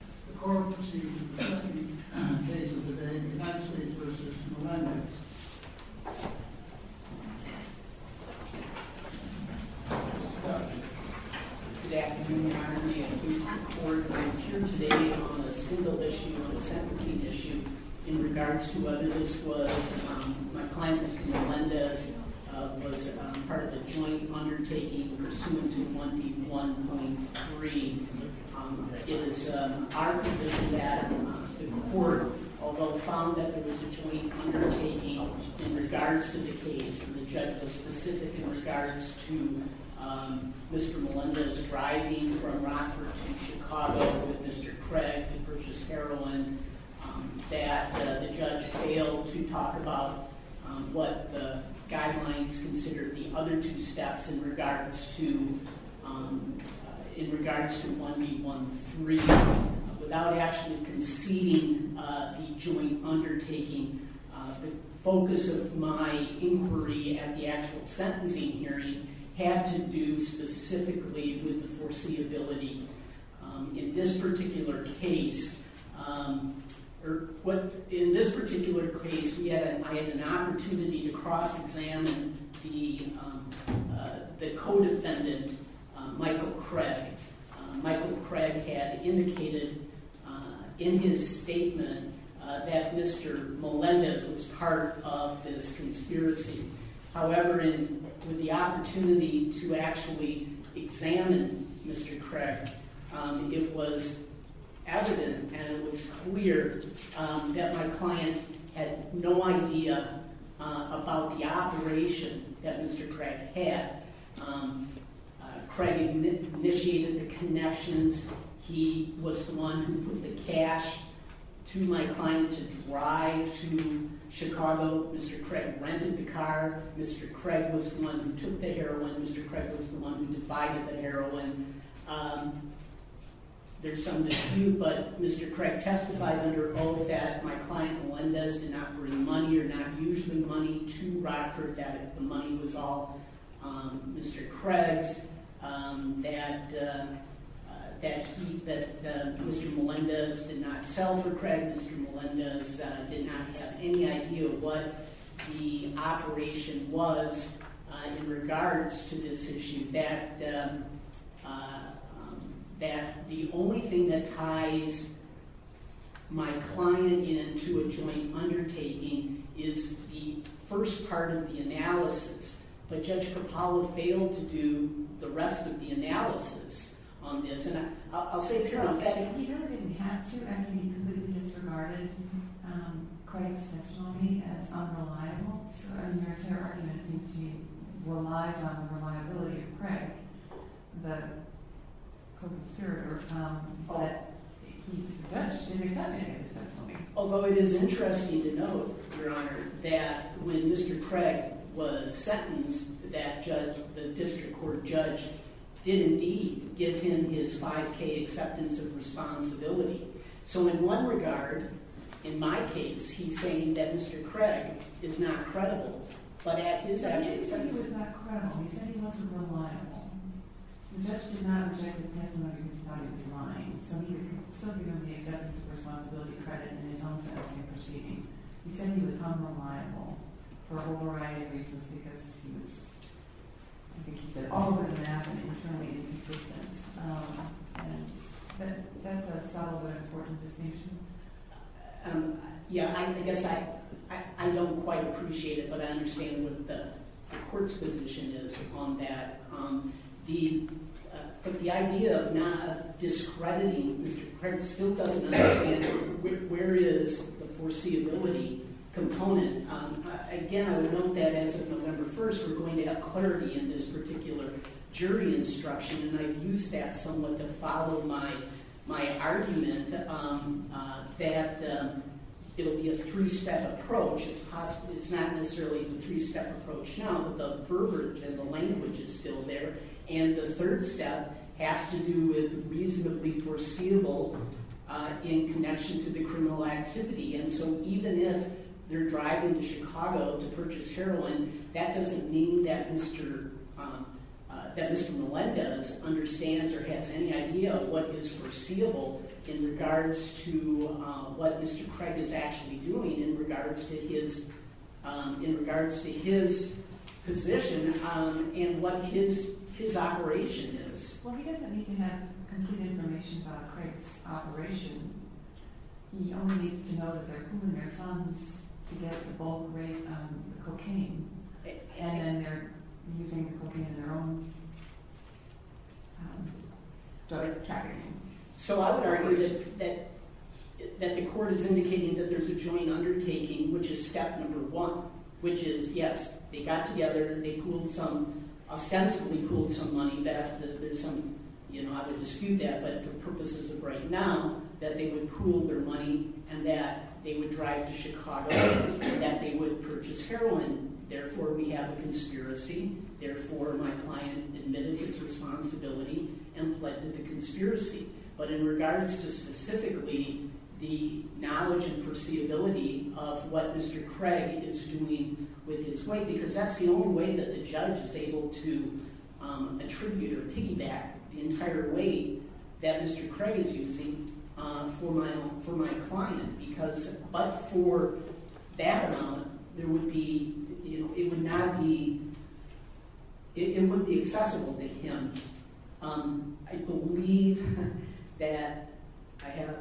The court proceeds with the second case of the day, D'Angelo v. Melendez. Good afternoon, Your Honor. May it please the Court, I'm here today on a single issue, on a sentencing issue, in regards to whether this was, my client, Mr. Melendez, was part of the joint undertaking pursuant to 1P1.3. It is our position that the court, although found that there was a joint undertaking in regards to the case, and the judge was specific in regards to Mr. Melendez driving from Rockford to Chicago with Mr. Craig to purchase heroin, that the judge failed to talk about what the guidelines considered the other two steps in regards to 1P1.3 without actually conceding the joint undertaking. The focus of my inquiry at the actual sentencing hearing had to do specifically with the foreseeability in this particular case. In this particular case, I had an opportunity to cross-examine the co-defendant, Michael Craig. Michael Craig had indicated in his statement that Mr. Melendez was part of this conspiracy. However, with the opportunity to actually examine Mr. Craig, it was evident and it was clear that my client had no idea about the operation that Mr. Craig had. Craig initiated the connections. He was the one who put the cash to my client to drive to Chicago. Mr. Craig rented the car. Mr. Craig was the one who took the heroin. Mr. Craig was the one who divided the heroin. There's some dispute, but Mr. Craig testified under oath that my client Melendez did not bring money or not use the money to Rockford, that the money was all Mr. Craig's, that Mr. Melendez did not sell for Craig. Mr. Melendez did not have any idea what the operation was in regards to this issue, that the only thing that ties my client in to a joint undertaking is the first part of the analysis. But Judge Capallo failed to do the rest of the analysis on this, and I'll say it here. In fact, he really didn't have to. I mean, he completely disregarded Craig's testimony as unreliable. So in your general argument, it seems to me, it relies on the reliability of Craig, the co-conspirator. But the judge didn't accept Craig's testimony. Although it is interesting to note, Your Honor, that when Mr. Craig was sentenced, the district court judge did indeed give him his 5K acceptance of responsibility. So in one regard, in my case, he's saying that Mr. Craig is not credible, but at his evidence… He actually said he was not credible. He said he wasn't reliable. The judge did not object his testimony because he thought he was lying. So he still didn't give him the acceptance of responsibility credit in his own sentencing proceeding. He said he was unreliable for a whole variety of reasons because he was, I think he said, all over the map and internally inconsistent. That's a solid and important distinction. Yeah, I guess I don't quite appreciate it, but I understand what the court's position is on that. The idea of not discrediting Mr. Craig still doesn't understand where is the foreseeability component. Again, I would note that as of November 1st, we're going to have clarity in this particular jury instruction. And I've used that somewhat to follow my argument that it'll be a three-step approach. It's not necessarily a three-step approach now, but the verbiage and the language is still there. And the third step has to do with reasonably foreseeable in connection to the criminal activity. And so even if they're driving to Chicago to purchase heroin, that doesn't mean that Mr. Millet understands or has any idea of what is foreseeable in regards to what Mr. Craig is actually doing in regards to his position and what his operation is. Well, he doesn't need to have complete information about Craig's operation. He only needs to know that they're pooling their funds to get the bulk rate on the cocaine, and then they're using the cocaine in their own trafficking. So I would argue that the court is indicating that there's a joint undertaking, which is step number one, which is, yes, they got together. They pooled some – ostensibly pooled some money. There's some – I would dispute that, but for purposes of right now, that they would pool their money and that they would drive to Chicago and that they would purchase heroin. Therefore, we have a conspiracy. Therefore, my client admitted his responsibility and pledged to the conspiracy. But in regards to specifically the knowledge and foreseeability of what Mr. Craig is doing with his weight, because that's the only way that the judge is able to attribute or piggyback the entire weight that Mr. Craig is using for my client. Because – but for that amount, there would be – it would not be – it would be accessible to him. I believe that I have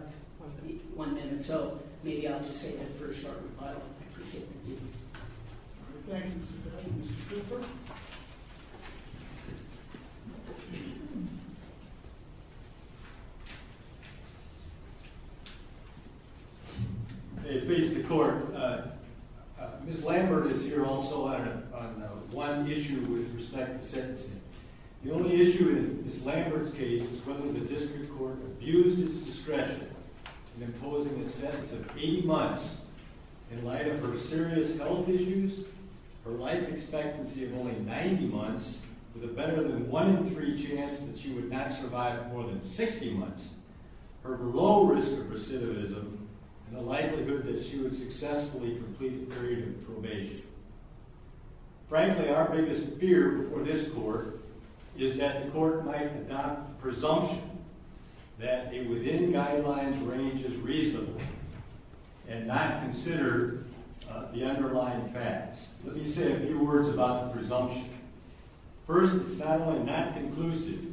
one minute, so maybe I'll just say that for a short rebuttal. I appreciate it. Thank you. Okay. Mr. Cooper? May it please the court. Ms. Lambert is here also on one issue with respect to sentencing. The only issue in Ms. Lambert's case is whether the district court abused its discretion in imposing a sentence of eight months in light of her serious health issues, her life expectancy of only 90 months, with a better than one in three chance that she would not survive more than 60 months, her low risk of recidivism, and the likelihood that she would successfully complete the period of probation. Frankly, our biggest fear before this court is that the court might adopt the presumption that a within-guidelines range is reasonable and not consider the underlying facts. Let me say a few words about the presumption. First, it's not only not conclusive,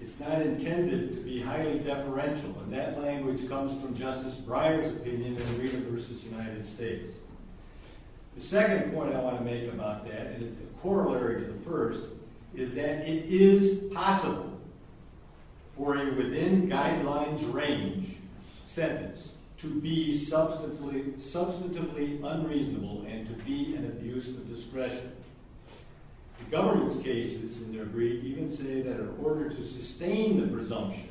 it's not intended to be highly deferential, and that language comes from Justice Breyer's opinion in Arena v. United States. The second point I want to make about that, and it's a corollary to the first, is that it is possible for a within-guidelines range sentence to be substantively unreasonable and to be an abuse of discretion. The government's cases in their brief even say that in order to sustain the presumption,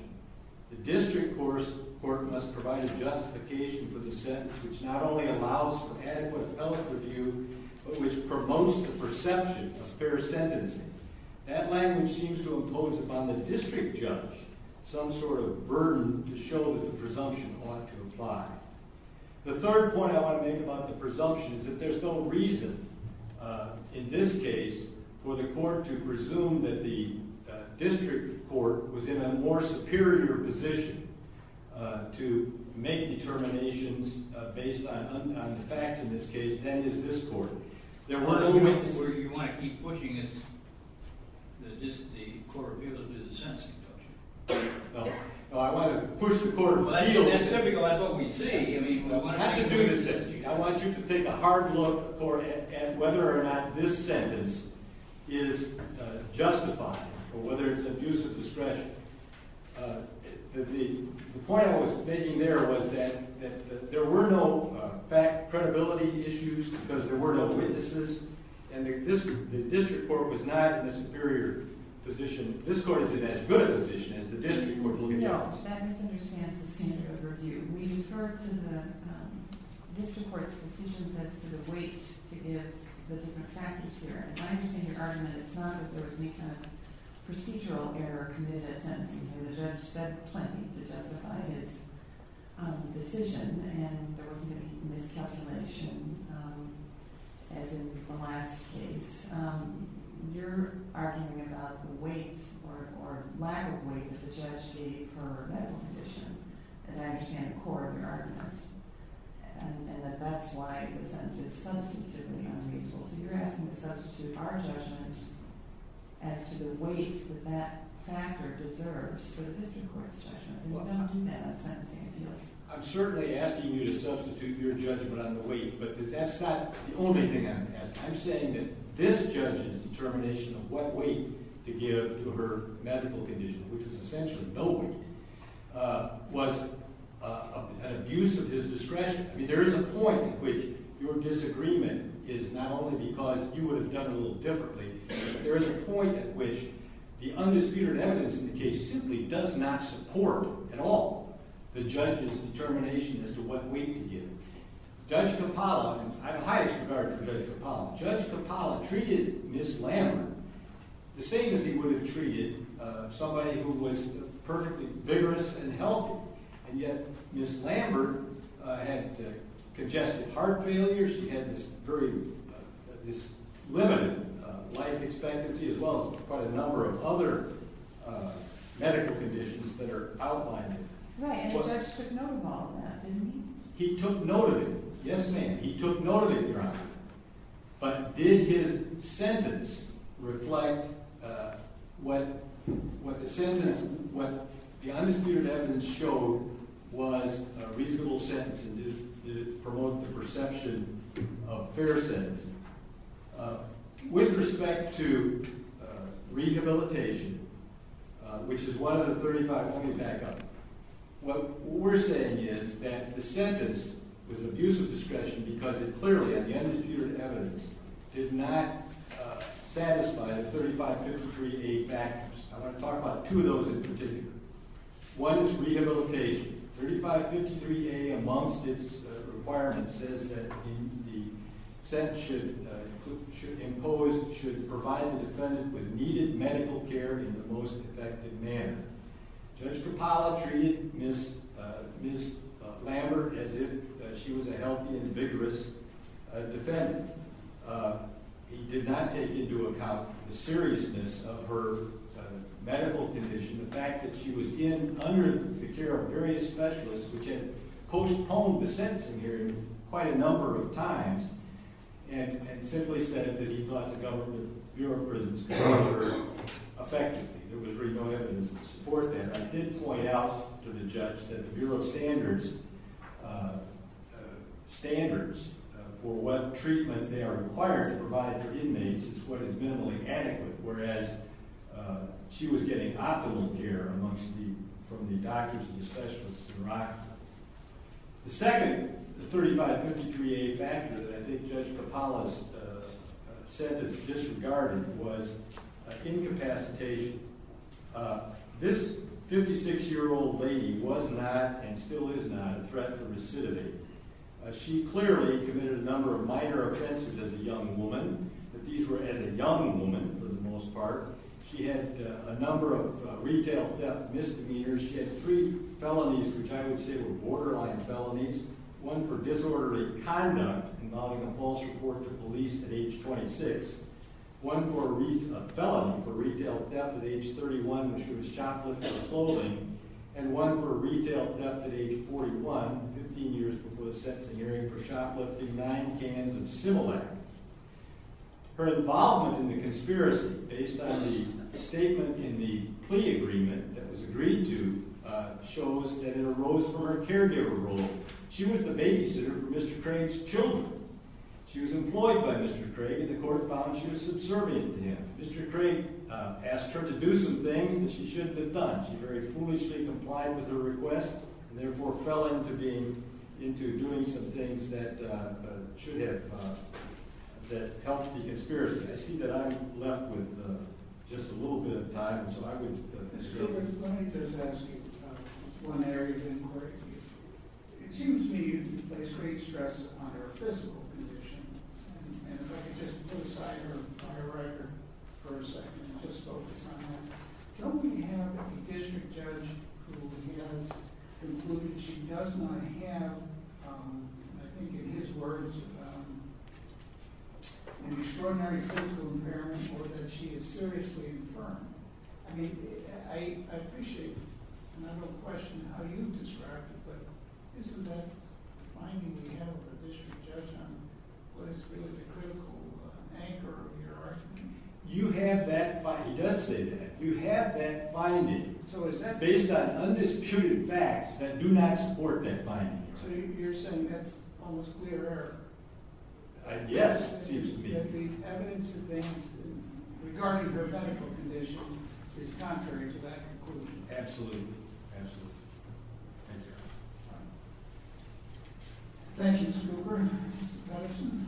the district court must provide a justification for the sentence which not only allows for adequate health review, but which promotes the perception of fair sentencing. That language seems to impose upon the district judge some sort of burden to show that the presumption ought to apply. The third point I want to make about the presumption is that there's no reason in this case for the court to presume that the district court was in a more superior position to make determinations based on the facts in this case than is this court. You want to keep pushing the court of appeals to do the sentencing, don't you? No, I want to push the court of appeals. That's typical. That's what we see. I want you to take a hard look at whether or not this sentence is justified or whether it's abuse of discretion. The point I was making there was that there were no fact-credibility issues because there were no witnesses, and the district court was not in a superior position. This court is in as good a position as the district court in the office. That misunderstands the standard of review. We defer to the district court's decisions as to the weight to give the different factors there. As I understand your argument, it's not that there was any kind of procedural error committed at sentencing here. The judge said plenty to justify his decision, and there wasn't any miscalculation, as in the last case. You're arguing about the weight or lack of weight that the judge gave her medical condition, as I understand the core of your argument, and that that's why the sentence is substantively unreasonable. So you're asking to substitute our judgment as to the weights that that factor deserves for the district court's judgment. What bound do you make on sentencing appeals? I'm certainly asking you to substitute your judgment on the weight, but that's not the only thing I'm asking. I'm saying that this judge's determination of what weight to give to her medical condition, which was essentially no weight, was an abuse of his discretion. I mean, there is a point at which your disagreement is not only because you would have done it a little differently, but there is a point at which the undisputed evidence in the case simply does not support at all the judge's determination as to what weight to give. Judge Coppola, and I have the highest regard for Judge Coppola, Judge Coppola treated Ms. Lambert the same as he would have treated somebody who was perfectly vigorous and healthy, and yet Ms. Lambert had congestive heart failure. She had this very limited life expectancy as well as quite a number of other medical conditions that are outlining it. Right, and the judge took note of all of that, didn't he? He took note of it, Your Honor, but did his sentence reflect what the undisputed evidence showed was a reasonable sentence, and did it promote the perception of fair sentencing? With respect to rehabilitation, which is 135, we'll get back up, what we're saying is that the sentence was an abuse of discretion because it clearly, at the undisputed evidence, did not satisfy the 3553A factors. I want to talk about two of those in particular. One is rehabilitation. 3553A, amongst its requirements, says that the sentence should impose, should provide the defendant with needed medical care in the most effective manner. Judge Capaldi treated Ms. Lambert as if she was a healthy and vigorous defendant. He did not take into account the seriousness of her medical condition, the fact that she was in under the care of various specialists, which had postponed the sentencing hearing quite a number of times, and simply said that he thought the government, the Bureau of Prisons could offer her effectively. There was very little evidence to support that. I did point out to the judge that the Bureau of Standards, standards for what treatment they are required to provide their inmates is what is minimally adequate, whereas she was getting optimal care from the doctors and the specialists in Iraq. The second 3553A factor that I think Judge Capaldi said was disregarded was incapacitation. This 56-year-old lady was not, and still is not, a threat to recidivism. She clearly committed a number of minor offenses as a young woman, but these were as a young woman for the most part. She had a number of retail misdemeanors. She had three felonies, which I would say were borderline felonies, one for disorderly conduct, involving a false report to police at age 26, one for a felony for retail theft at age 31, which was shoplifting clothing, and one for retail theft at age 41, 15 years before the sentencing hearing, for shoplifting nine cans of Similac. Her involvement in the conspiracy, based on the statement in the plea agreement that was agreed to, shows that it arose from her caregiver role. She was the babysitter for Mr. Craig's children. She was employed by Mr. Craig, and the court found she was subservient to him. Mr. Craig asked her to do some things that she shouldn't have done. She very foolishly complied with her request, and therefore fell into doing some things that should have helped the conspiracy. I see that I'm left with just a little bit of time, so I would ask. Let me just ask you one area of inquiry. It seems to me you've placed great stress on her physical condition, and if I could just put aside her bio record for a second and just focus on that. Don't we have a district judge who has concluded she does not have, I think in his words, an extraordinary physical impairment or that she is seriously infirmed? I mean, I appreciate the question of how you describe it, but isn't that the finding we have of the district judge on what is really the critical anchor of your argument? You have that finding. He does say that. You have that finding based on undisputed facts that do not support that finding. So you're saying that's almost clear error? Yes, it seems to me. That the evidence against her regarding her medical condition is contrary to that conclusion? Absolutely. Absolutely. Thank you. Thank you, Mr. Cooper. Mr. Patterson?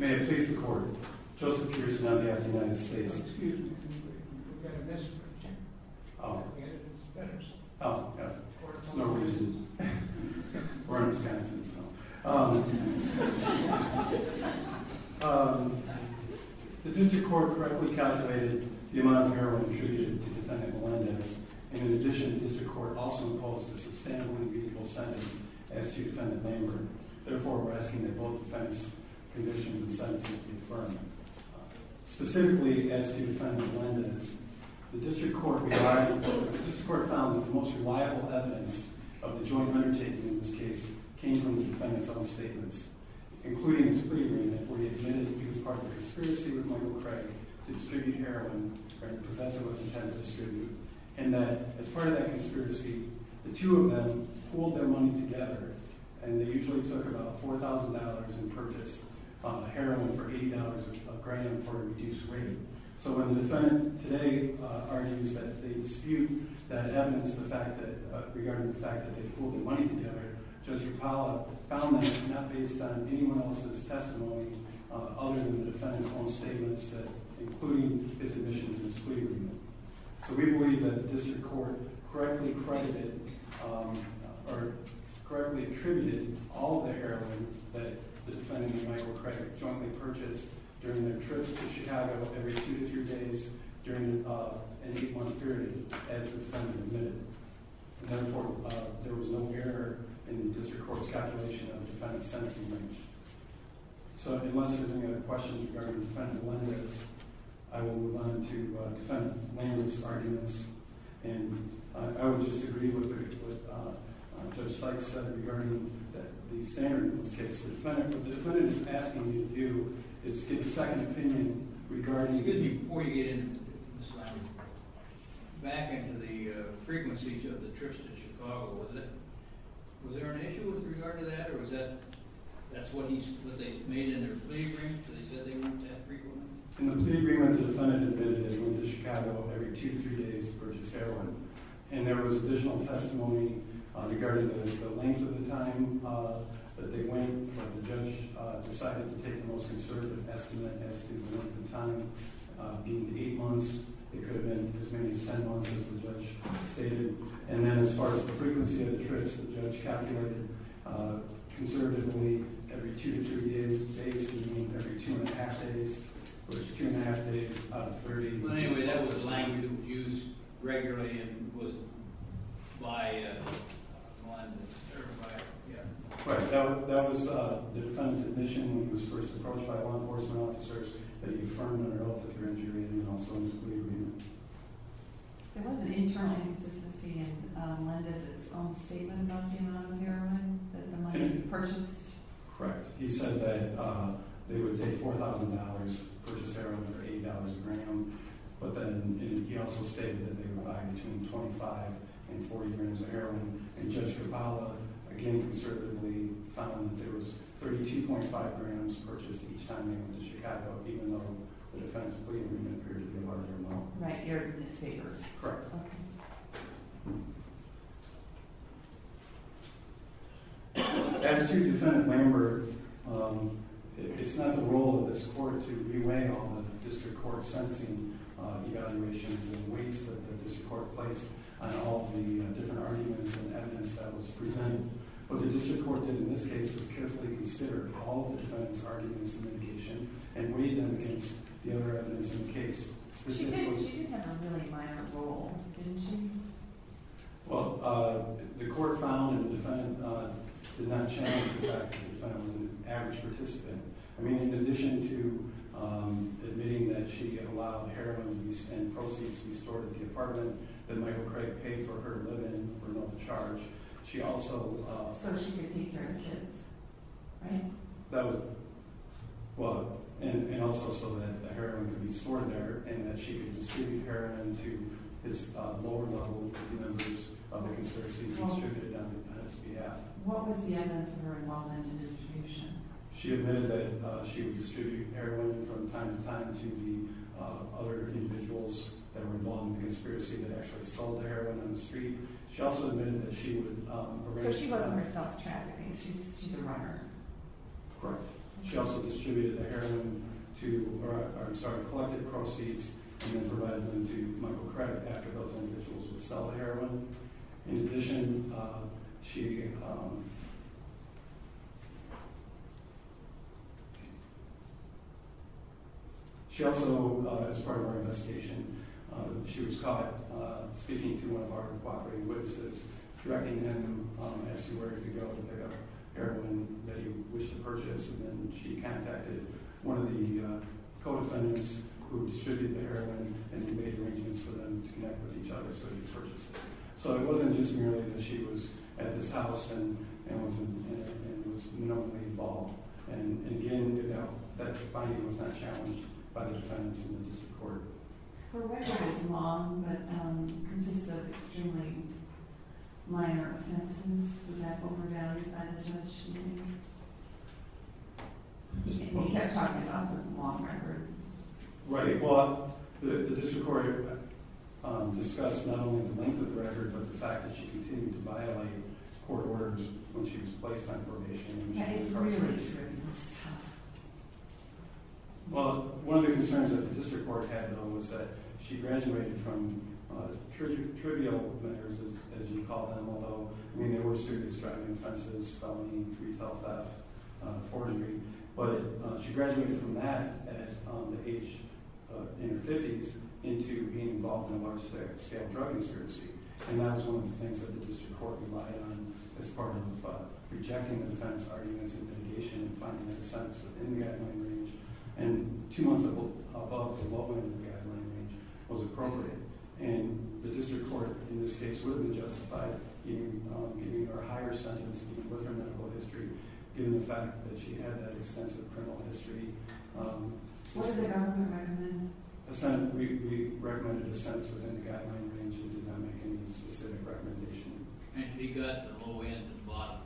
Thank you. May it please the court, Joseph Peterson, on behalf of the United States. Excuse me. We've got a misprint. Oh. The evidence, Patterson. Oh, yeah. It's no reason. We're in Wisconsin, so. The district court correctly calculated the amount of heroin intrusion to defendant Melendez, and in addition, the district court also imposed a sustainably reasonable sentence as to defendant Langer. Therefore, we're asking that both defendants' conditions and sentences be affirmed. Specifically, as to defendant Melendez, the district court found that the most reliable evidence of the joint undertaking in this case came from the defendant's own statements, including a screening where he admitted that he was part of a conspiracy with Michael Craig to distribute heroin, right, because that's what he tends to distribute, and that as part of that conspiracy, the two of them pooled their money together, and they usually took about $4,000 and purchased heroin for $80 a gram for a reduced rate. So when the defendant today argues that they dispute that evidence regarding the fact that they pooled the money together, Judge Rapallo found that not based on anyone else's testimony other than the defendant's own statements, including his admissions and screening. So we believe that the district court correctly credited or correctly attributed all of the heroin that the defendant and Michael Craig jointly purchased during their trips to Chicago every two to three days during an 8-month period as the defendant admitted. Therefore, there was no error in the district court's calculation of the defendant's sentence and range. So unless there are any other questions regarding Defendant Landis, I will move on to Defendant Landis' arguments, and I would just agree with what Judge Sykes said regarding the standard in this case. What the defendant is asking you to do is get a second opinion regarding... Excuse me, before you get back into the frequency of the trips to Chicago, was there an issue with regard to that, or was that what they made in their plea agreement, that they said they went that frequently? In the plea agreement, the defendant admitted that he went to Chicago every two to three days to purchase heroin, and there was additional testimony regarding the length of the time that they went. The judge decided to take the most conservative estimate as to the length of time, being the 8 months, it could have been as many as 10 months, as the judge stated. And then, as far as the frequency of the trips, the judge calculated conservatively, every two to three days, basically meaning every two and a half days, which is two and a half days out of 30. But anyway, that was the length used regularly and was by one to certify it. Correct. That was the defendant's admission when he was first approached by law enforcement officers that he affirmed a relative hearing duty and also in the plea agreement. There was an internal inconsistency in Lendez's own statement about the amount of heroin that the money had been purchased. Correct. He said that they would take $4,000, purchase heroin for $8 a gram, but then he also stated that they would buy between 25 and 40 grams of heroin. And Judge Tripala, again conservatively, found that there was 32.5 grams purchased each time they went to Chicago, even though the defense plea agreement appeared to be a larger amount. Right. You're in his favor. Correct. Okay. As a two-defendant member, it's not the role of this court to be weighing all of the district court sentencing evaluations and weights that the district court placed on all of the different arguments and evidence that was presented. What the district court did in this case was carefully consider all of the defendant's arguments and medication and weighed them against the other evidence in the case. She did have a really minor role, didn't she? Well, the court found that the defendant did not challenge the fact that the defendant was an average participant. I mean, in addition to admitting that she allowed heroin and proceeds to be stored in the apartment that Michael Craig paid for her living for no charge, she also... So she could take care of the kids, right? That was... Well, and also so that the heroin could be stored there and that she could distribute heroin to his lower-level members of the conspiracy and distribute it on his behalf. What was the evidence of her involvement in distribution? She admitted that she would distribute heroin from time to time to the other individuals that were involved in the conspiracy that actually sold heroin on the street. She also admitted that she would... So she wasn't herself trafficking. She's a runner. Correct. She also distributed the heroin to... Or, I'm sorry, collected proceeds and then provided them to Michael Craig after those individuals would sell the heroin. In addition, she... She also, as part of our investigation, she was caught speaking to one of our cooperating witnesses, directing him as to where to go to pick up heroin that he wished to purchase, and then she contacted one of the co-defendants who distributed the heroin and he made arrangements for them to connect with each other so he could purchase it. So it wasn't just merely that she was at this house and was known to be involved. And again, that finding was not challenged by the defendants in the district court. Her record is long, but consists of extremely minor offenses. Was that overvalued by the judge, do you think? You kept talking about the long record. Right. Well, the district court discussed not only the length of the record, but the fact that she continued to violate court orders when she was placed on probation. That is really true. That's tough. Well, one of the concerns that the district court had, though, was that she graduated from trivial matters, as you call them, although, I mean, there were serious driving offenses, felonies, retail theft, forgery, but she graduated from that at the age, in her 50s, into being involved in a large-scale drug insurancy. And that was one of the things that the district court relied on as part of rejecting the defense arguments and litigation and finding an assent within the guideline range. And two months above what went into the guideline range was appropriate. And the district court, in this case, would have been justified in giving her a higher sentence with her medical history, given the fact that she had that extensive criminal history. What did the government recommend? We recommended an assent within the guideline range and did not make any specific recommendation. And he got the low end and the bottom.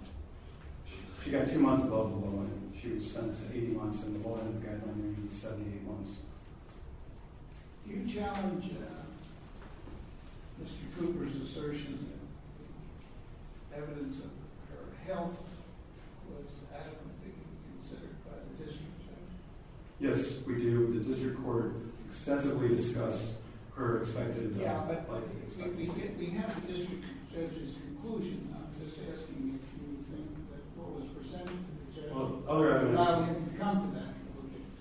She got two months above the low end. She was sentenced to 80 months, and the low end of the guideline range was 78 months. Do you challenge Mr. Cooper's assertion that the evidence of her health was adequately considered by the district judge? Yes, we do. The district court extensively discussed her expected... We have the district judge's conclusion. I'm just asking if you think that what was presented to the judge... Well, other evidence...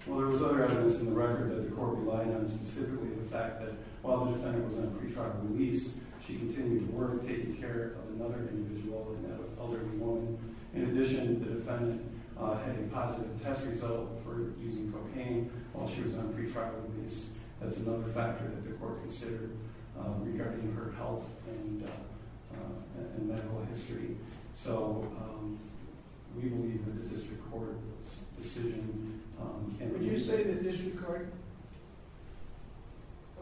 Well, there was other evidence in the record that the court relied on, specifically the fact that while the defendant was on pre-trial release, she continued to work taking care of another individual, another elderly woman. In addition, the defendant had a positive test result for using cocaine while she was on pre-trial release. That's another factor that the court considered regarding her health and medical history. So, we believe that the district court's decision... Would you say the district court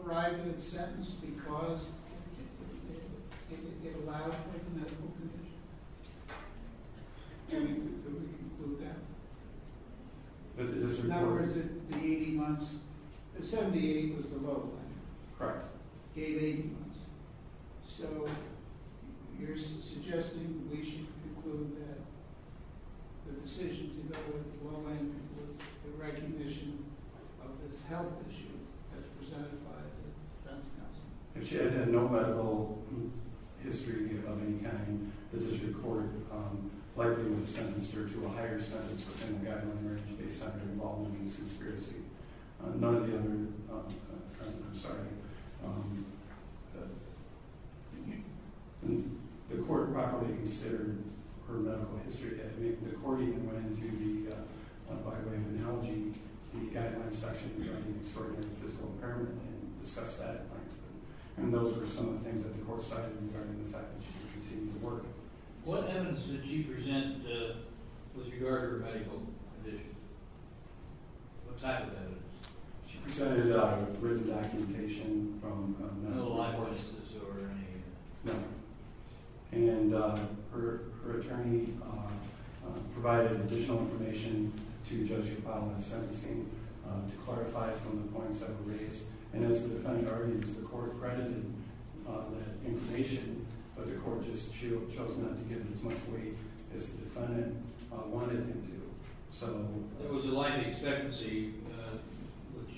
arrived at a sentence because it allowed for the medical condition? Would you conclude that? The district court... The 78 was the lowline. Correct. Gave 80 months. So, you're suggesting we should conclude that the decision to go with the lowline was a recognition of this health issue as presented by the defense counsel? If she had had no medical history of any kind, the district court likely would have sentenced her to a higher sentence within the guideline of an emergency based on her involvement in the conspiracy. None of the other... I'm sorry. The court probably considered her medical history. The court even went into the, by way of analogy, the guideline section regarding extraordinary physical impairment and discussed that. And those were some of the things that the court cited regarding the fact that she would continue to work. What evidence did she present with regard to her medical condition? What type of evidence? She presented written documentation from... No live witnesses or any... No. And her attorney provided additional information to Judge Rapallo in the sentencing to clarify some of the points that were raised. And as the defendant argues, the court credited that information, but the court just chose not to give it as much weight as the defendant wanted them to. So... There was a likely expectancy, which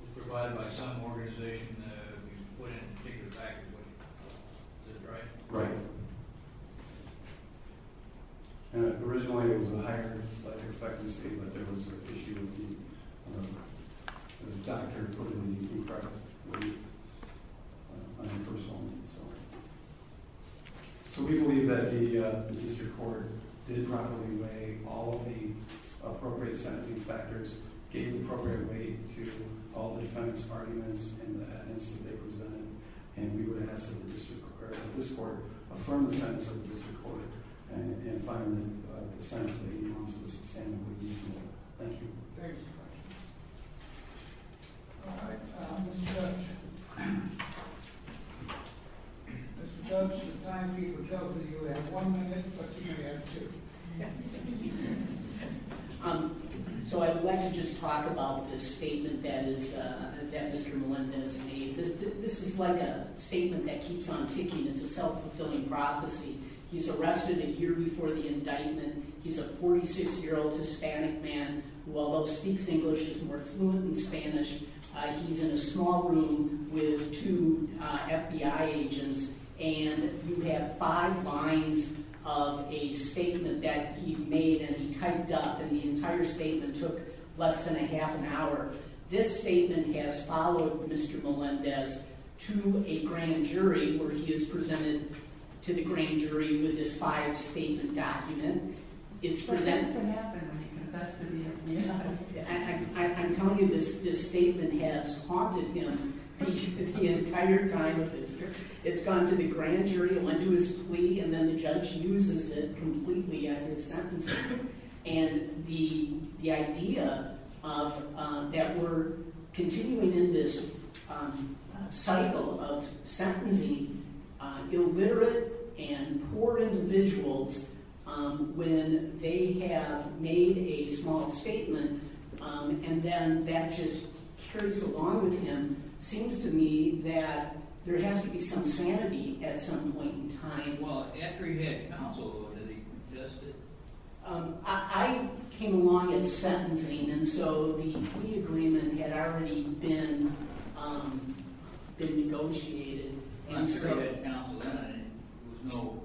was provided by some organization, that we put in a particular package. Is that right? Right. Originally, it was a higher expectancy, but there was an issue of the doctor putting the need to increase weight on the first woman, so... So we believe that the district court did properly weigh all of the appropriate sentencing factors, gave the appropriate weight to all the defendants' arguments and the evidence that they presented, and we would ask that this court affirm the sentence of the district court and find the sentence that you want to sustainably use more. Thank you. All right, Mr. Judge. Mr. Judge, the time people tell me you have one minute, but you may have two. So I'd like to just talk about this statement that Mr. Melendez made. This is like a statement that keeps on ticking. It's a self-fulfilling prophecy. He's arrested a year before the indictment. He's a 46-year-old Hispanic man who, although speaks English, is more fluent in Spanish. He's in a small room with two FBI agents, and you have five lines of a statement that he's made, and he typed up, and the entire statement took less than a half an hour. This statement has followed Mr. Melendez to a grand jury where he is presented to the grand jury with this five-statement document. Less than half an hour. I'm telling you, this statement has haunted him the entire time of this. It's gone to the grand jury, it went to his plea, and then the judge uses it completely at his sentencing. And the idea that we're continuing in this cycle of sentencing illiterate and poor individuals when they have made a small statement and then that just carries along with him, seems to me that there has to be some sanity at some point in time. Well, after he had counsel, did he contest it? I came along at sentencing, and so the plea agreement had already been negotiated. After he had counsel, there was no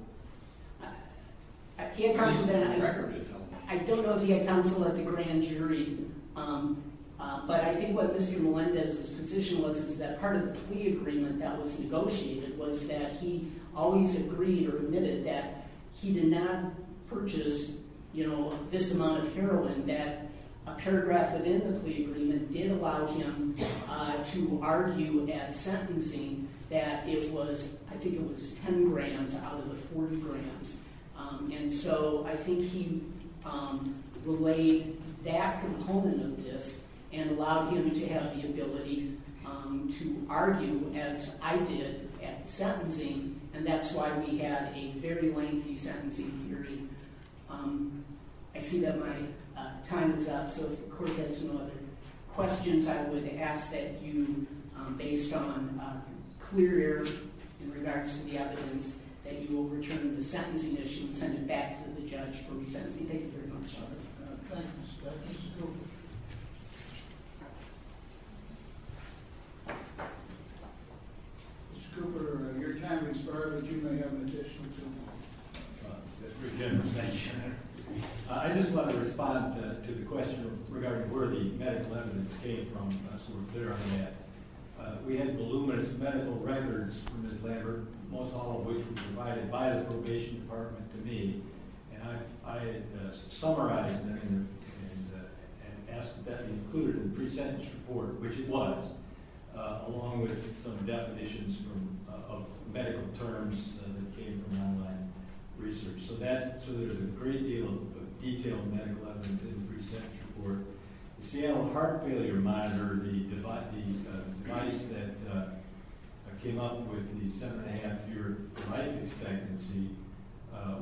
record of it? I don't know if he had counsel at the grand jury, but I think what Mr. Melendez's position was is that part of the plea agreement that was negotiated was that he always agreed or admitted that he did not purchase this amount of heroin, that a paragraph within the plea agreement did allow him to argue at sentencing that it was, I think it was 10 grams out of the 40 grams. And so I think he relayed that component of this and allowed him to have the ability to argue as I did at sentencing, and that's why we had a very lengthy sentencing hearing. I see that my time is up, so if the court has no other questions, I would ask that you, based on clear error in regards to the evidence, that you will return the sentencing issue and send it back to the judge for resentencing. Thank you very much. Thank you, Mr. Judge. Mr. Cooper. Mr. Cooper, your time has expired, but you may have an additional two minutes. Thank you. I just want to respond to the question regarding where the medical evidence came from, so we're clear on that. We had voluminous medical records from Ms. Lambert, most all of which were provided by the probation department to me, and I had summarized them and asked that they be included in the pre-sentence report, which it was, along with some definitions of medical terms that came from online research. So there's a great deal of detailed medical evidence in the pre-sentence report. The Seattle heart failure monitor, the device that came up with the seven-and-a-half-year life expectancy,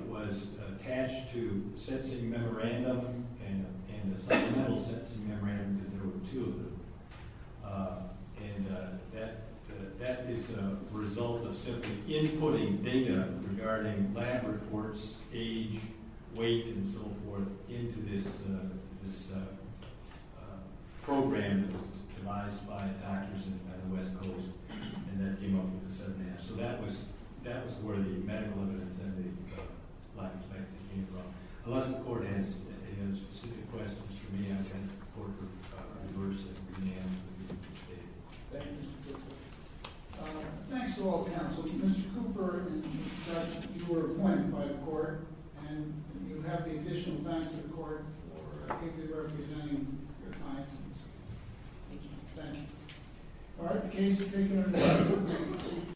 was attached to a sentencing memorandum and a supplemental sentencing memorandum, because there were two of them, and that is a result of simply inputting data regarding lab reports, age, weight, and so forth, into this program that was devised by doctors at the West Coast, and that came up with the seven-and-a-half. So that was where the medical evidence and the life expectancy came from. Unless the court has any other specific questions for me, I'm going to hand the report over to Bruce and Dan. Thank you, Mr. Cooper. Thanks to all the counselors. Mr. Cooper, you were appointed by the court, and you have the additional thanks of the court for particularly representing your clients in this case. Thank you. All right, the case is concluded.